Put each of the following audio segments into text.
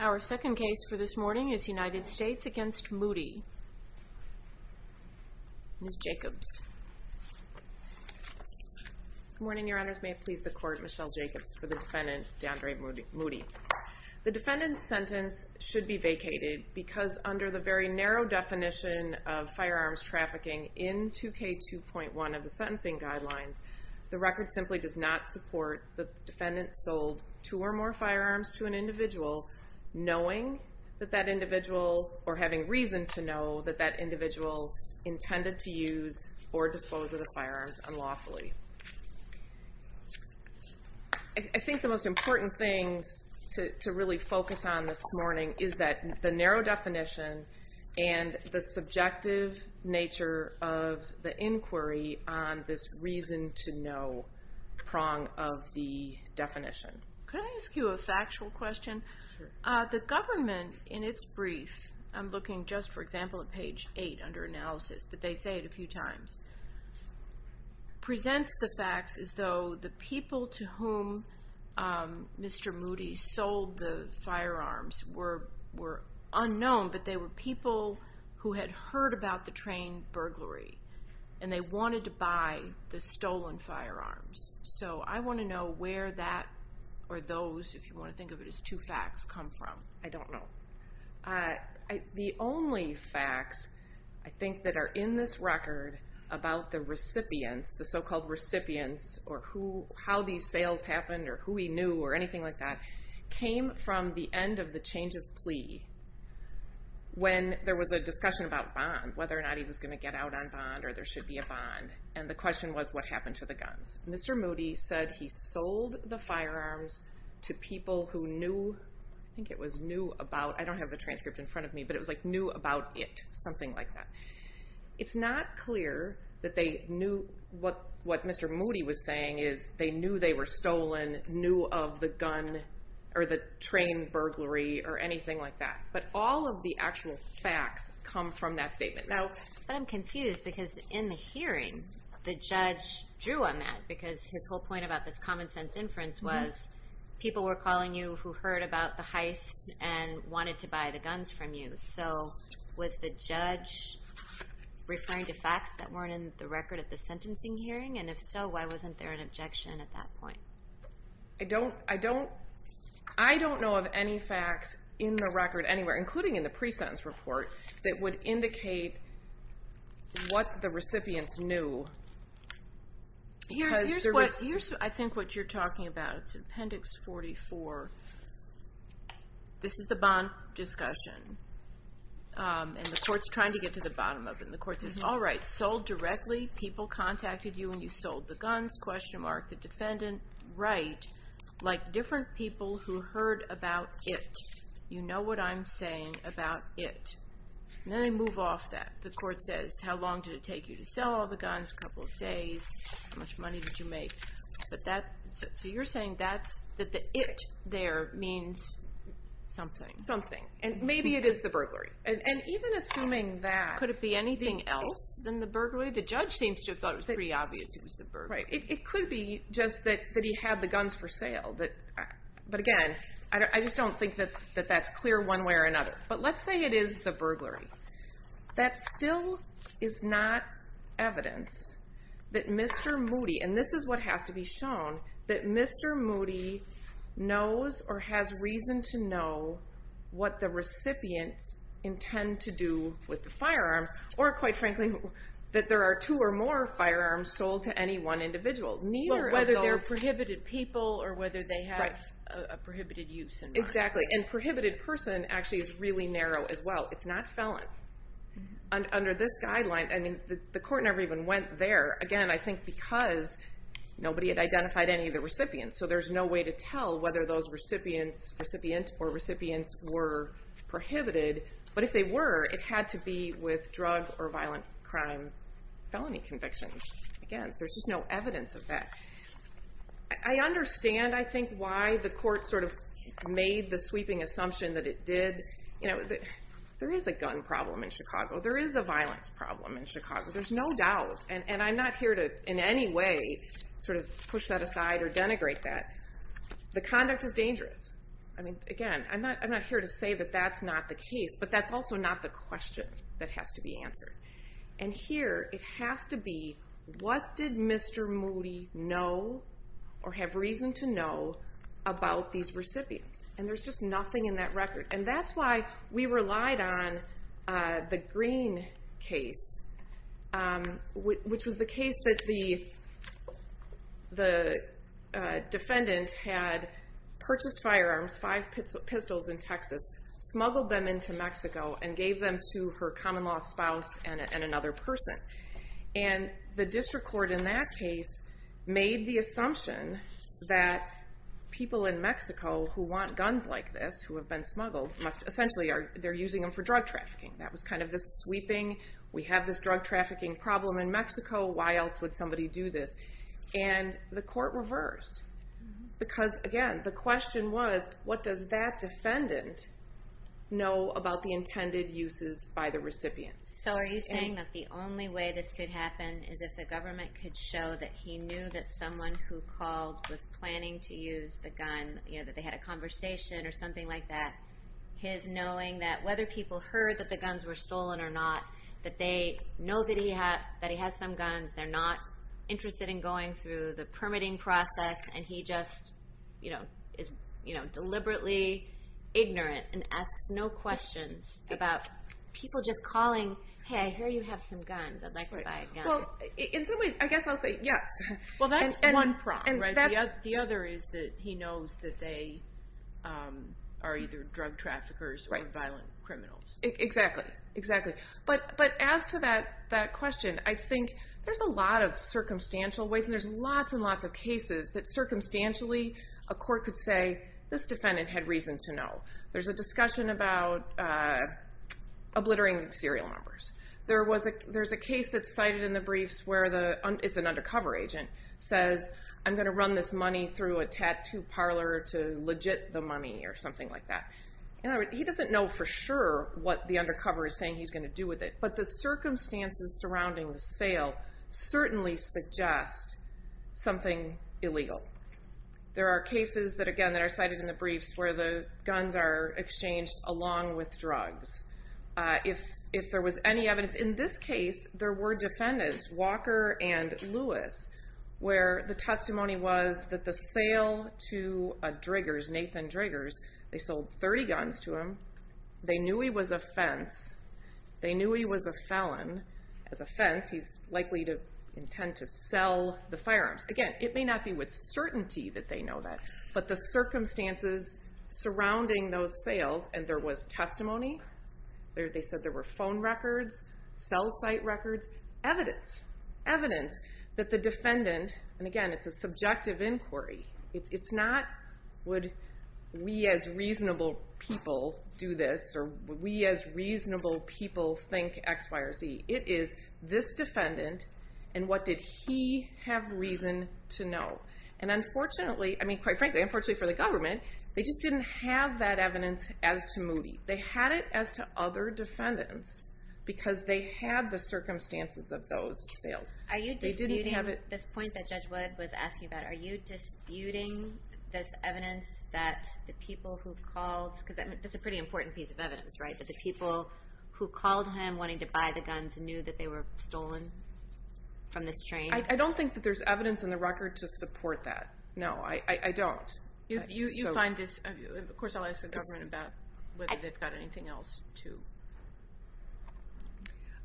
Our second case for this morning is United States against Moody. Ms. Jacobs. Good morning, your honors. May it please the court, Michelle Jacobs for the defendant Dandre Moody. The defendant's sentence should be vacated because under the very narrow definition of firearms trafficking in 2K2.1 of the sentencing guidelines, the record simply does not support the defendant sold two or more firearms to an individual knowing that that individual or having reason to know that that individual intended to use or dispose of the firearms unlawfully. I think the most important things to really focus on this morning is that the subjective nature of the inquiry on this reason to know prong of the definition. Could I ask you a factual question? The government in its brief, I'm looking just for example at page 8 under analysis, but they say it a few times, presents the facts as though the people to whom Mr. Moody sold the firearms were were people who had heard about the train burglary and they wanted to buy the stolen firearms. So I want to know where that or those, if you want to think of it as two facts, come from. I don't know. The only facts I think that are in this record about the recipients, the so-called recipients or who how these sales happened or who he knew or anything like that, came from the end of the change of plea when there was a discussion about bond, whether or not he was going to get out on bond or there should be a bond. And the question was what happened to the guns. Mr. Moody said he sold the firearms to people who knew, I think it was knew about, I don't have the transcript in front of me, but it was like knew about it, something like that. It's not clear that they knew what what Mr. Moody was saying is they knew they were stolen, knew of the gun or the train burglary or anything like that. But all of the actual facts come from that statement. Now, but I'm confused because in the hearing the judge drew on that because his whole point about this common-sense inference was people were calling you who heard about the heist and wanted to buy the guns from you. So was the judge referring to facts that weren't in the record at the sentencing hearing? And if so, why wasn't there an objection at that point? I don't, I don't, I don't know of any facts in the record anywhere, including in the pre-sentence report, that would indicate what the recipients knew. Here's what, here's I think what you're talking about. It's in Appendix 44. This is the bond discussion and the court's trying to get to the bottom of it. And the court says, all right, sold directly, people contacted you and you sold the guns, question mark, the people who heard about it. You know what I'm saying about it. And then they move off that. The court says, how long did it take you to sell all the guns? A couple of days. How much money did you make? But that, so you're saying that's, that the it there means something. Something. And maybe it is the burglary. And even assuming that. Could it be anything else than the burglary? The judge seems to have thought it was pretty obvious it was the burglary. Right. It could be just that he had the guns for sale. But again, I just don't think that that's clear one way or another. But let's say it is the burglary. That still is not evidence that Mr. Moody, and this is what has to be shown, that Mr. Moody knows or has reason to know what the recipients intend to do with the firearms. Or quite frankly, that there are two or more firearms sold to any one individual. Neither of those. But whether they're prohibited people or whether they have a prohibited use in mind. Exactly. And prohibited person actually is really narrow as well. It's not felon. Under this guideline, I mean, the court never even went there. Again, I think because nobody had identified any of the recipients. So there's no way to tell whether those recipients, recipient or recipients, were prohibited. But if they were, it had to be with drug or violent crime felony convictions. Again, there's just no evidence of that. I understand, I think, why the court sort of made the sweeping assumption that it did. You know, there is a gun problem in Chicago. There is a violence problem in Chicago. There's no doubt. And I'm not here to, in any way, sort of push that aside or denigrate that. The conduct is dangerous. I mean, again, I'm not I'm not here to say that that's not the case. But that's also not the question that has to be answered. And here it has to be, what did Mr. Moody know or have reason to know about these recipients? And there's just nothing in that record. And that's why we relied on the Green case, which was the case that the defendant had purchased firearms, five pistols in Texas, smuggled them into Mexico, and gave them to her common-law spouse and another person. And the district court in that case made the assumption that people in Mexico who want guns like this, who have been smuggled, must essentially, they're using them for drug trafficking. That was kind of the sweeping, we have this drug trafficking problem in Mexico, why else would somebody do this? And the court reversed. Because again, the question was, what does that defendant know about the gun? And the only way this could happen is if the government could show that he knew that someone who called was planning to use the gun, you know, that they had a conversation or something like that. His knowing that whether people heard that the guns were stolen or not, that they know that he had that he has some guns, they're not interested in going through the permitting process, and he just, you know, is, you know, deliberately ignorant and asks no questions about people just calling, hey, I hear you have some guns, I'd like to buy a gun. Well, in some ways, I guess I'll say yes. Well, that's one problem, right? The other is that he knows that they are either drug traffickers or violent criminals. Exactly, exactly. But as to that question, I think there's a lot of circumstantial ways, and there's lots and lots of cases that circumstantially a court could say, this defendant had reason to know. There's a discussion about obliterating serial numbers. There was a there's a case that's cited in the briefs where the, it's an undercover agent, says I'm going to run this money through a tattoo parlor to legit the money or something like that. He doesn't know for sure what the undercover is saying he's going to do with it, but the circumstances surrounding the sale certainly suggest something illegal. There are cases that, again, that are cited in the briefs where the guns are exchanged along with drugs. If there was any evidence, in this case, there were defendants, Walker and Lewis, where the testimony was that the sale to a Driggers, Nathan Driggers, they sold 30 guns to him. They knew he was a fence. They knew he was a felon. As a fence, he's likely to intend to sell the firearms. Again, it may not be with certainty that they know that, but the circumstances surrounding those sales, and there was testimony. They said there were phone records, cell site records, evidence. Evidence that the defendant, and again, it's a subjective inquiry. It's not would we as reasonable people do this, or we as reasonable people think X, Y, or Z. It is this defendant, and what did he have reason to know? And unfortunately, I mean, quite frankly, unfortunately for the government, they just didn't have that evidence as to Moody. They had it as to other defendants because they had the circumstances of those sales. Are you disputing this point that Judge Wood was asking about? Are you disputing this evidence that the people who called, because that's a pretty important piece of evidence, right? That the people who called him wanting to buy the guns knew that they were stolen from this train? I don't think that there's evidence in the record to support that. No, I don't. You find this, of course, I'll ask the government about whether they've got anything else to...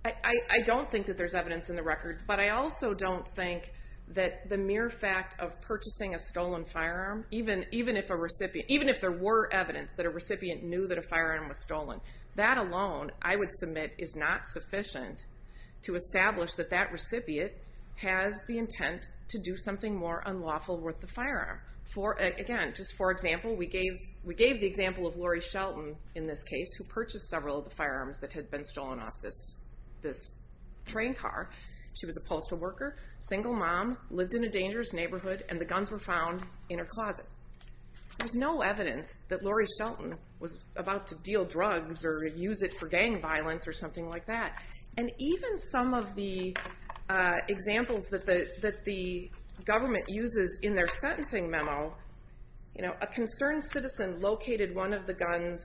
I don't think that there's evidence in the record, but I also don't think that the mere fact of purchasing a stolen firearm, even if a recipient, even if there were evidence that a recipient knew that a firearm was stolen, that alone, I would submit, is not sufficient to establish that that recipient has the intent to do something more unlawful with the firearm. For, again, just for example, we gave the example of Lori Shelton in this case, who purchased several of the firearms that had been stolen off this train car. She was a postal worker, single mom, lived in a dangerous neighborhood, and the guns were found in her closet. There's no evidence that Lori Shelton was about to deal with gang violence or something like that. And even some of the examples that the government uses in their sentencing memo, you know, a concerned citizen located one of the guns,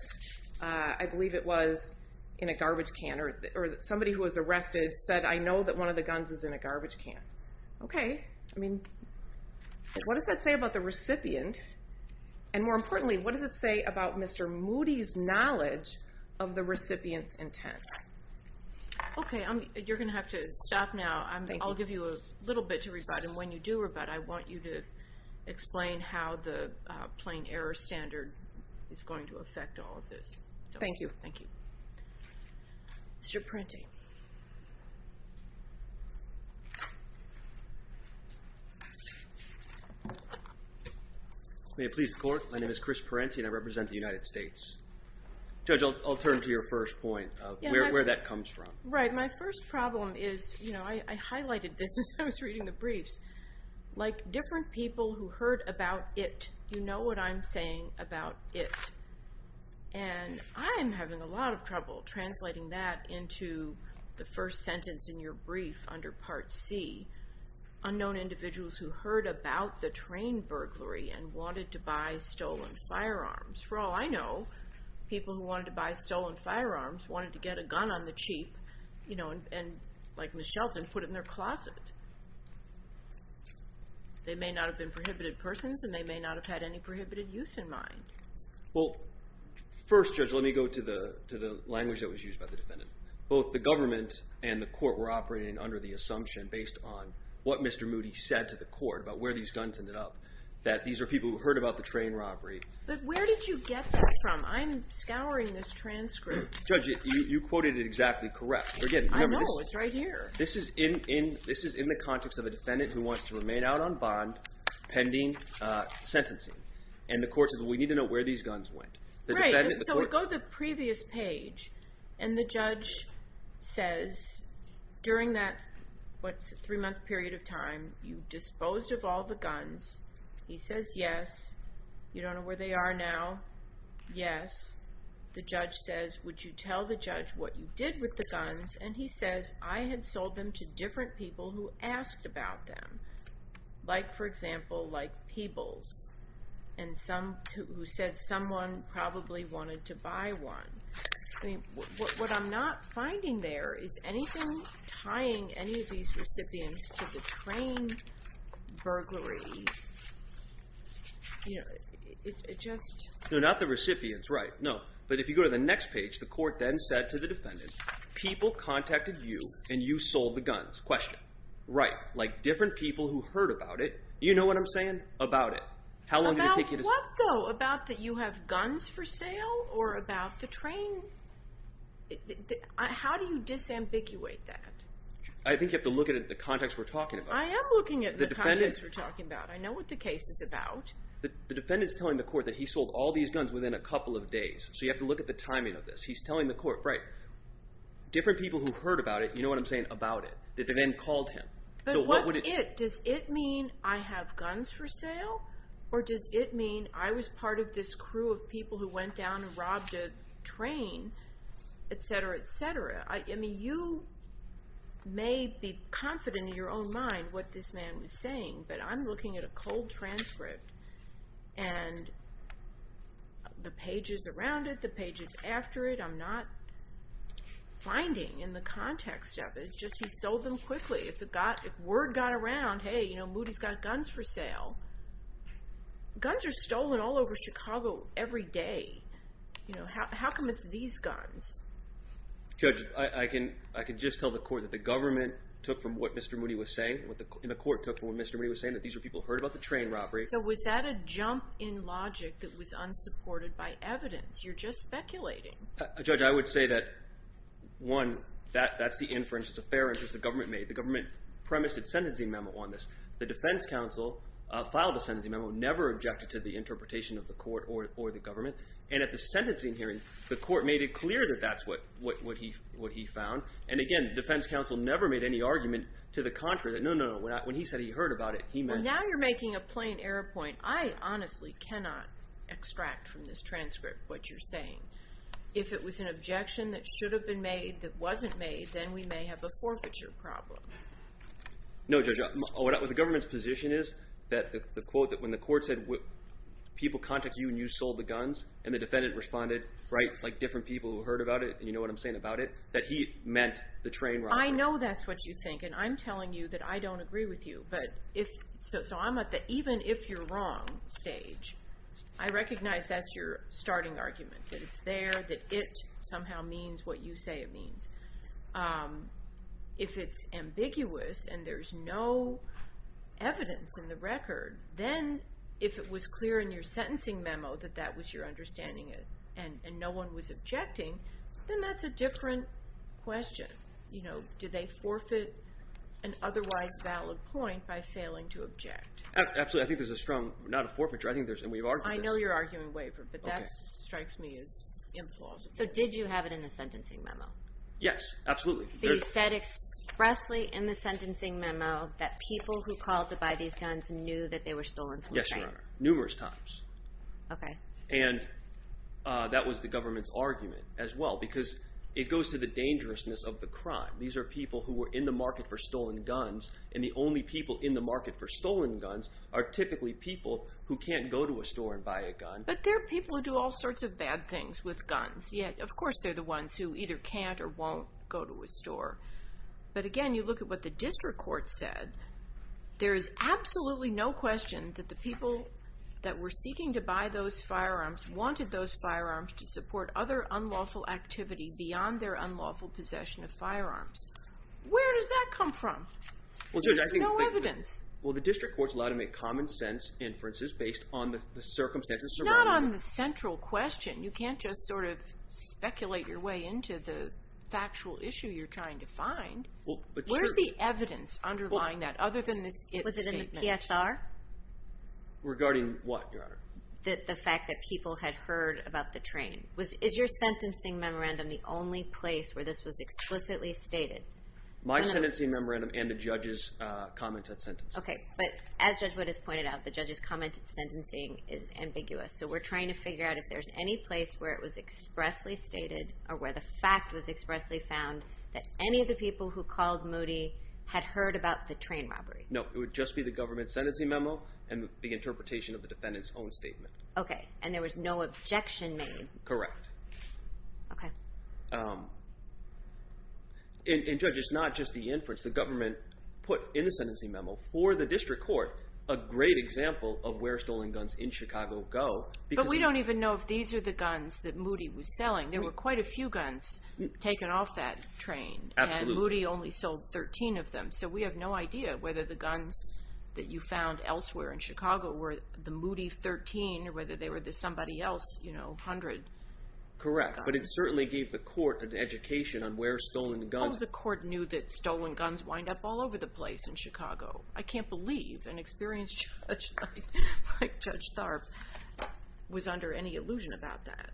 I believe it was in a garbage can, or somebody who was arrested said, I know that one of the guns is in a garbage can. Okay, I mean, what does that say about the recipient? And more importantly, what is the intent? Okay, you're going to have to stop now. I'll give you a little bit to rebut, and when you do rebut, I want you to explain how the plain error standard is going to affect all of this. Thank you. Thank you. Mr. Parente. May it please the court, my name is Chris Parente, and I represent the United States. Judge, I'll turn to your first point of where that comes from. Right, my first problem is, you know, I highlighted this as I was reading the briefs, like different people who heard about it, you know what I'm saying about it. And I'm having a lot of trouble translating that into the first sentence in your brief under Part C, unknown individuals who heard about the train burglary and wanted to buy stolen firearms. For all I know, people who wanted to buy stolen firearms wanted to get a gun on the cheap, you know, and like Ms. Shelton, put it in their closet. They may not have been prohibited persons, and they may not have had any prohibited use in mind. Well, first, Judge, let me go to the language that was used by the defendant. Both the government and the court were operating under the assumption, based on what Mr. Moody said to the court about where these guns ended up, that these are people who heard about the train robbery. But where did you get that from? I'm scouring this transcript. Judge, you quoted it exactly correct. I know, it's right here. This is in the context of a defendant who wants to remain out on bond, pending sentencing. And the court says, we need to know where these guns went. Right, so we go to the previous page, and the judge says, during that, what, three-month period of time, you disposed of all the guns. He says, yes. You don't know where they are now? Yes. The judge says, would you tell the judge what you did with the guns? And he says, I had sold them to different people who asked about them. Like, for example, like Peebles, who said someone probably wanted to buy one. What I'm not finding there is anything tying any of these recipients to the train burglary. You know, it just... No, not the recipients, right, no. But if you go to the next page, the court then said to the defendant, people contacted you, and you sold the guns. Question. Right, like different people who heard about it. You know what I'm saying? About it. How long did it take? But what, though, about that you have guns for sale, or about the train, how do you disambiguate that? I think you have to look at the context we're talking about. I am looking at the context we're talking about. I know what the case is about. The defendant's telling the court that he sold all these guns within a couple of days, so you have to look at the timing of this. He's telling the court, right, different people who heard about it, you know what I'm saying, about it, that then called him. But what's it? Does it mean I have guns for sale, or does it mean I was part of this crew of people who went down and robbed a train, etc., etc.? I mean, you may be confident in your own mind what this man was saying, but I'm looking at a cold transcript, and the pages around it, the pages after it, I'm not finding in the context of it. It's just he sold them quickly. If it got, if word got around, hey, you know, Moody's got guns for sale. Guns are stolen all over Chicago every day. You know, how come it's these guns? Judge, I can, I can just tell the court that the government took from what Mr. Moody was saying, what the court took from what Mr. Moody was saying, that these were people who heard about the train robbery. So was that a jump in logic that was unsupported by evidence? You're just speculating. Judge, I would say that, one, that, that's the inference, it's a fair inference the government made. The government premised its sentencing memo on this. The defense counsel filed a sentencing memo, never objected to the interpretation of the court or, or the government. And at the sentencing hearing, the court made it clear that that's what, what he, what he found. And again, the defense counsel never made any argument to the contrary that, no, no, no, when he said he heard about it, he meant... Well, now you're making a plain error point. I honestly cannot extract from this transcript what you're saying. If it was an objection that should have been made that wasn't made, then we may have a forfeiture problem. No, Judge, what, what the government's position is, that the, the quote that when the court said, people contacted you and you sold the guns, and the defendant responded, right, like different people who heard about it, and you know what I'm saying about it, that he meant the train robbery. I know that's what you think, and I'm telling you that I don't agree with you. But if, so, so I'm at the even if you're wrong stage. I recognize that's your starting argument, that it's there, that it somehow means what you say it means. If it's ambiguous and there's no evidence in the record, then if it was clear in your sentencing memo that that was your understanding it, and no one was objecting, then that's a different question. You know, do they forfeit an otherwise valid point by failing to object? Absolutely. I think there's a strong, not a forfeiture, I think there's, and we've argued that. I know you're arguing waiver, but that So did you have it in the sentencing memo? Yes, absolutely. So you said expressly in the sentencing memo that people who called to buy these guns knew that they were stolen from the train? Yes, your honor, numerous times. Okay. And that was the government's argument as well, because it goes to the dangerousness of the crime. These are people who were in the market for stolen guns, and the only people in the market for stolen guns are typically people who can't go to a store and buy a gun. But there are people who do all sorts of bad things with guns, yet of course they're the ones who either can't or won't go to a store. But again, you look at what the district court said. There is absolutely no question that the people that were seeking to buy those firearms wanted those firearms to support other unlawful activity beyond their unlawful possession of firearms. Where does that come from? There's no evidence. Well, the district court's allowed to make common sense inferences based on the circumstances surrounding them. Not on the central question. You can't just sort of speculate your way into the factual issue you're trying to find. Where's the evidence underlying that other than this if statement? Was it in the PSR? Regarding what, your honor? The fact that people had heard about the train. Is your sentencing memorandum the only place where this was explicitly stated? My sentencing memorandum and the judge's comment at sentencing. Okay, but as Judge Wood has pointed out, the judge's comment at sentencing is ambiguous. So we're trying to figure out if there's any place where it was expressly stated or where the fact was expressly found that any of the people who called Moody had heard about the train robbery. No, it would just be the government sentencing memo and the interpretation of the defendant's own statement. Okay, and there was no objection made? Correct. Okay. And Judge, it's not just the inference. The government put in the example of where stolen guns in Chicago go. But we don't even know if these are the guns that Moody was selling. There were quite a few guns taken off that train. Absolutely. And Moody only sold 13 of them. So we have no idea whether the guns that you found elsewhere in Chicago were the Moody 13 or whether they were the somebody else, you know, 100. Correct, but it certainly gave the court an education on where stolen guns. Oh, the court knew that stolen guns wind up all the place in Chicago. I can't believe an experienced judge like Judge Tharp was under any illusion about that.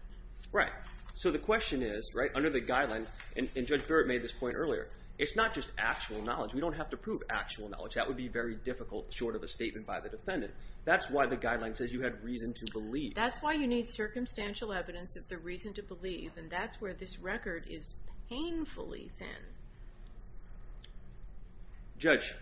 Right. So the question is, right, under the guideline, and Judge Barrett made this point earlier, it's not just actual knowledge. We don't have to prove actual knowledge. That would be very difficult short of a statement by the defendant. That's why the guideline says you had reason to believe. That's why you need circumstantial evidence of the reason to believe, and that's where this record is painfully thin. Judge,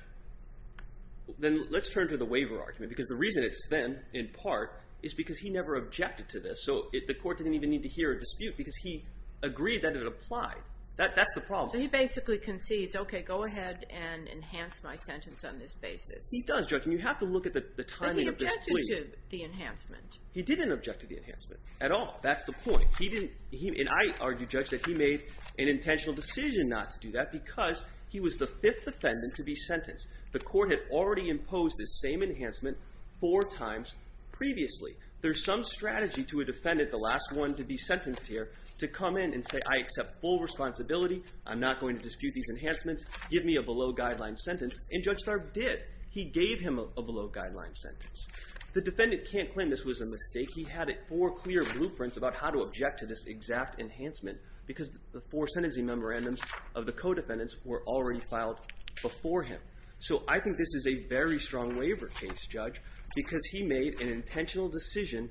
then let's turn to the waiver argument, because the reason it's thin, in part, is because he never objected to this. So the court didn't even need to hear a dispute because he agreed that it applied. That's the problem. So he basically concedes, okay, go ahead and enhance my sentence on this basis. He does, Judge, and you have to look at the timing of this plea. But he objected to the enhancement. He didn't object to the enhancement at all. That's the point. And I argued, Judge, that he made an intentional decision not to do that because he was the fifth defendant to be sentenced. The court had already imposed this same enhancement four times previously. There's some strategy to a defendant, the last one to be sentenced here, to come in and say, I accept full responsibility. I'm not going to dispute these enhancements. Give me a below-guideline sentence, and Judge Tharp did. He gave him a below-guideline sentence. The defendant can't claim this was a mistake. He had four clear blueprints about how to object to this exact enhancement because the four sentencing memorandums of the co-defendants were already filed before him. So I think this is a very strong waiver case, Judge, because he made an intentional decision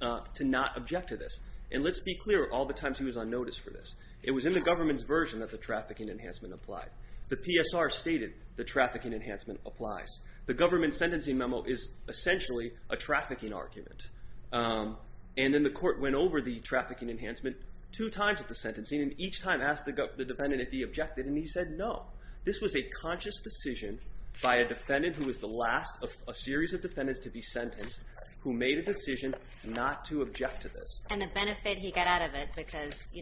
to not object to this. And let's be clear all the times he was on notice for this. It was in the government's version that the trafficking enhancement applied. The PSR stated the trafficking enhancement applies. The government sentencing memo is essentially a trafficking argument. And then the court went over the trafficking enhancement two times at the sentencing, and each time asked the defendant if he objected, and he said no. This was a conscious decision by a defendant who was the last of a series of defendants to be sentenced who made a decision not to object to this. And the benefit he got out of it because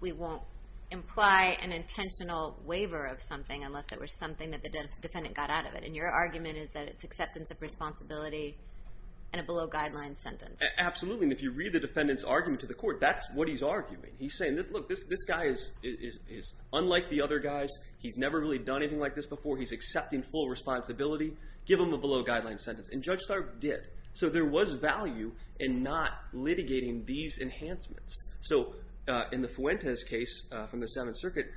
we won't imply an intentional waiver of something unless there was something that the defendant got out of it. And your argument is that it's acceptance of responsibility and a below-guideline sentence. Absolutely. And if you read the defendant's argument to the court, that's what he's arguing. He's saying, look, this guy is unlike the other guys. He's never really done anything like this before. He's accepting full responsibility. Give him a below-guideline sentence. And Judge Stark did. So there was value in not litigating these enhancements. So in the Fuentes case from the Seventh Circuit,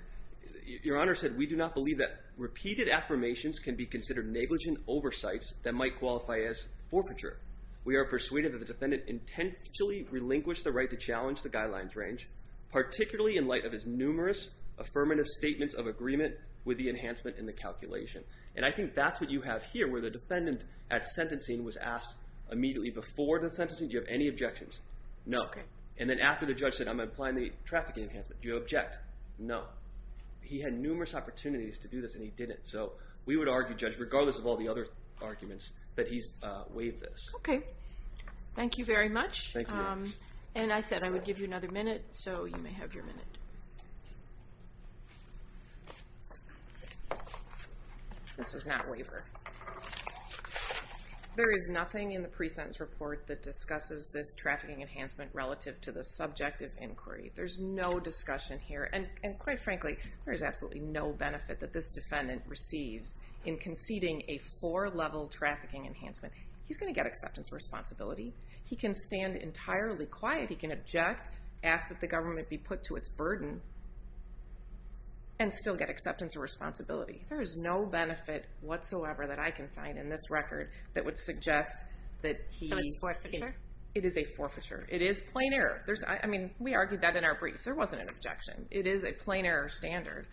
your Honor said, we do not believe that repeated affirmations can be considered negligent oversights that might qualify as forfeiture. We are persuaded that the defendant intentionally relinquished the right to challenge the guidelines range, particularly in light of his numerous affirmative statements of agreement with the enhancement in the calculation. And I think that's what you have here, where the defendant at sentencing was asked immediately before the sentencing, do you have any objections? No. Okay. And then after the judge said, I'm applying the trafficking enhancement, do you object? No. He had numerous opportunities to do this and he didn't. So we would argue, Judge, regardless of all the other arguments, that he's waived this. Okay. Thank you very much. And I said I would give you another minute, so you may have your minute. This was not waiver. There is nothing in the pre-sentence report that discusses this trafficking enhancement relative to the subject of inquiry. There's no discussion here. And quite frankly, there is absolutely no benefit that this defendant receives in conceding a four-level trafficking enhancement. He's going to get acceptance responsibility. He can stand entirely quiet. He can object, ask that the government be put to its burden, and still get acceptance of responsibility. There is no benefit whatsoever that I can find in this record that would suggest that he... So it's forfeiture? It is a forfeiture. It is plain error. I mean, we argued that in our brief. There wasn't an objection. It is a plain error standard.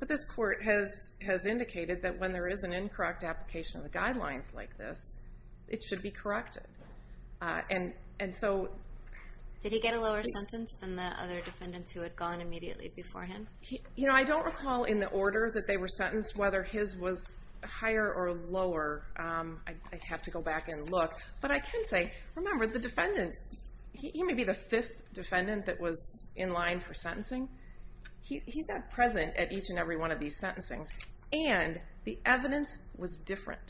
But this court has indicated that when there is an incorrect application of the guidelines like this, it should be corrected. And so... Did he get a lower sentence than the other defendants who had gone immediately before him? You know, I don't recall in the order that they were sentenced whether his was higher or lower. I'd have to go back and look. But I can say, remember, the defendant... He may be the fifth defendant that was in line for sentencing. He's not present at each and every of these sentencings. And the evidence was different.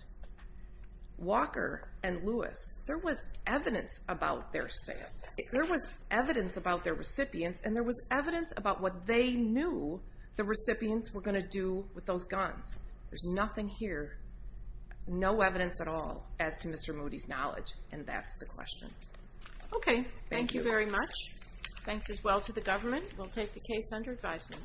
Walker and Lewis, there was evidence about their sales. There was evidence about their recipients. And there was evidence about what they knew the recipients were going to do with those guns. There's nothing here. No evidence at all as to Mr. Moody's knowledge. And that's the question. Okay. Thank you very much. Thanks as well to the government. We'll take the case under advisement.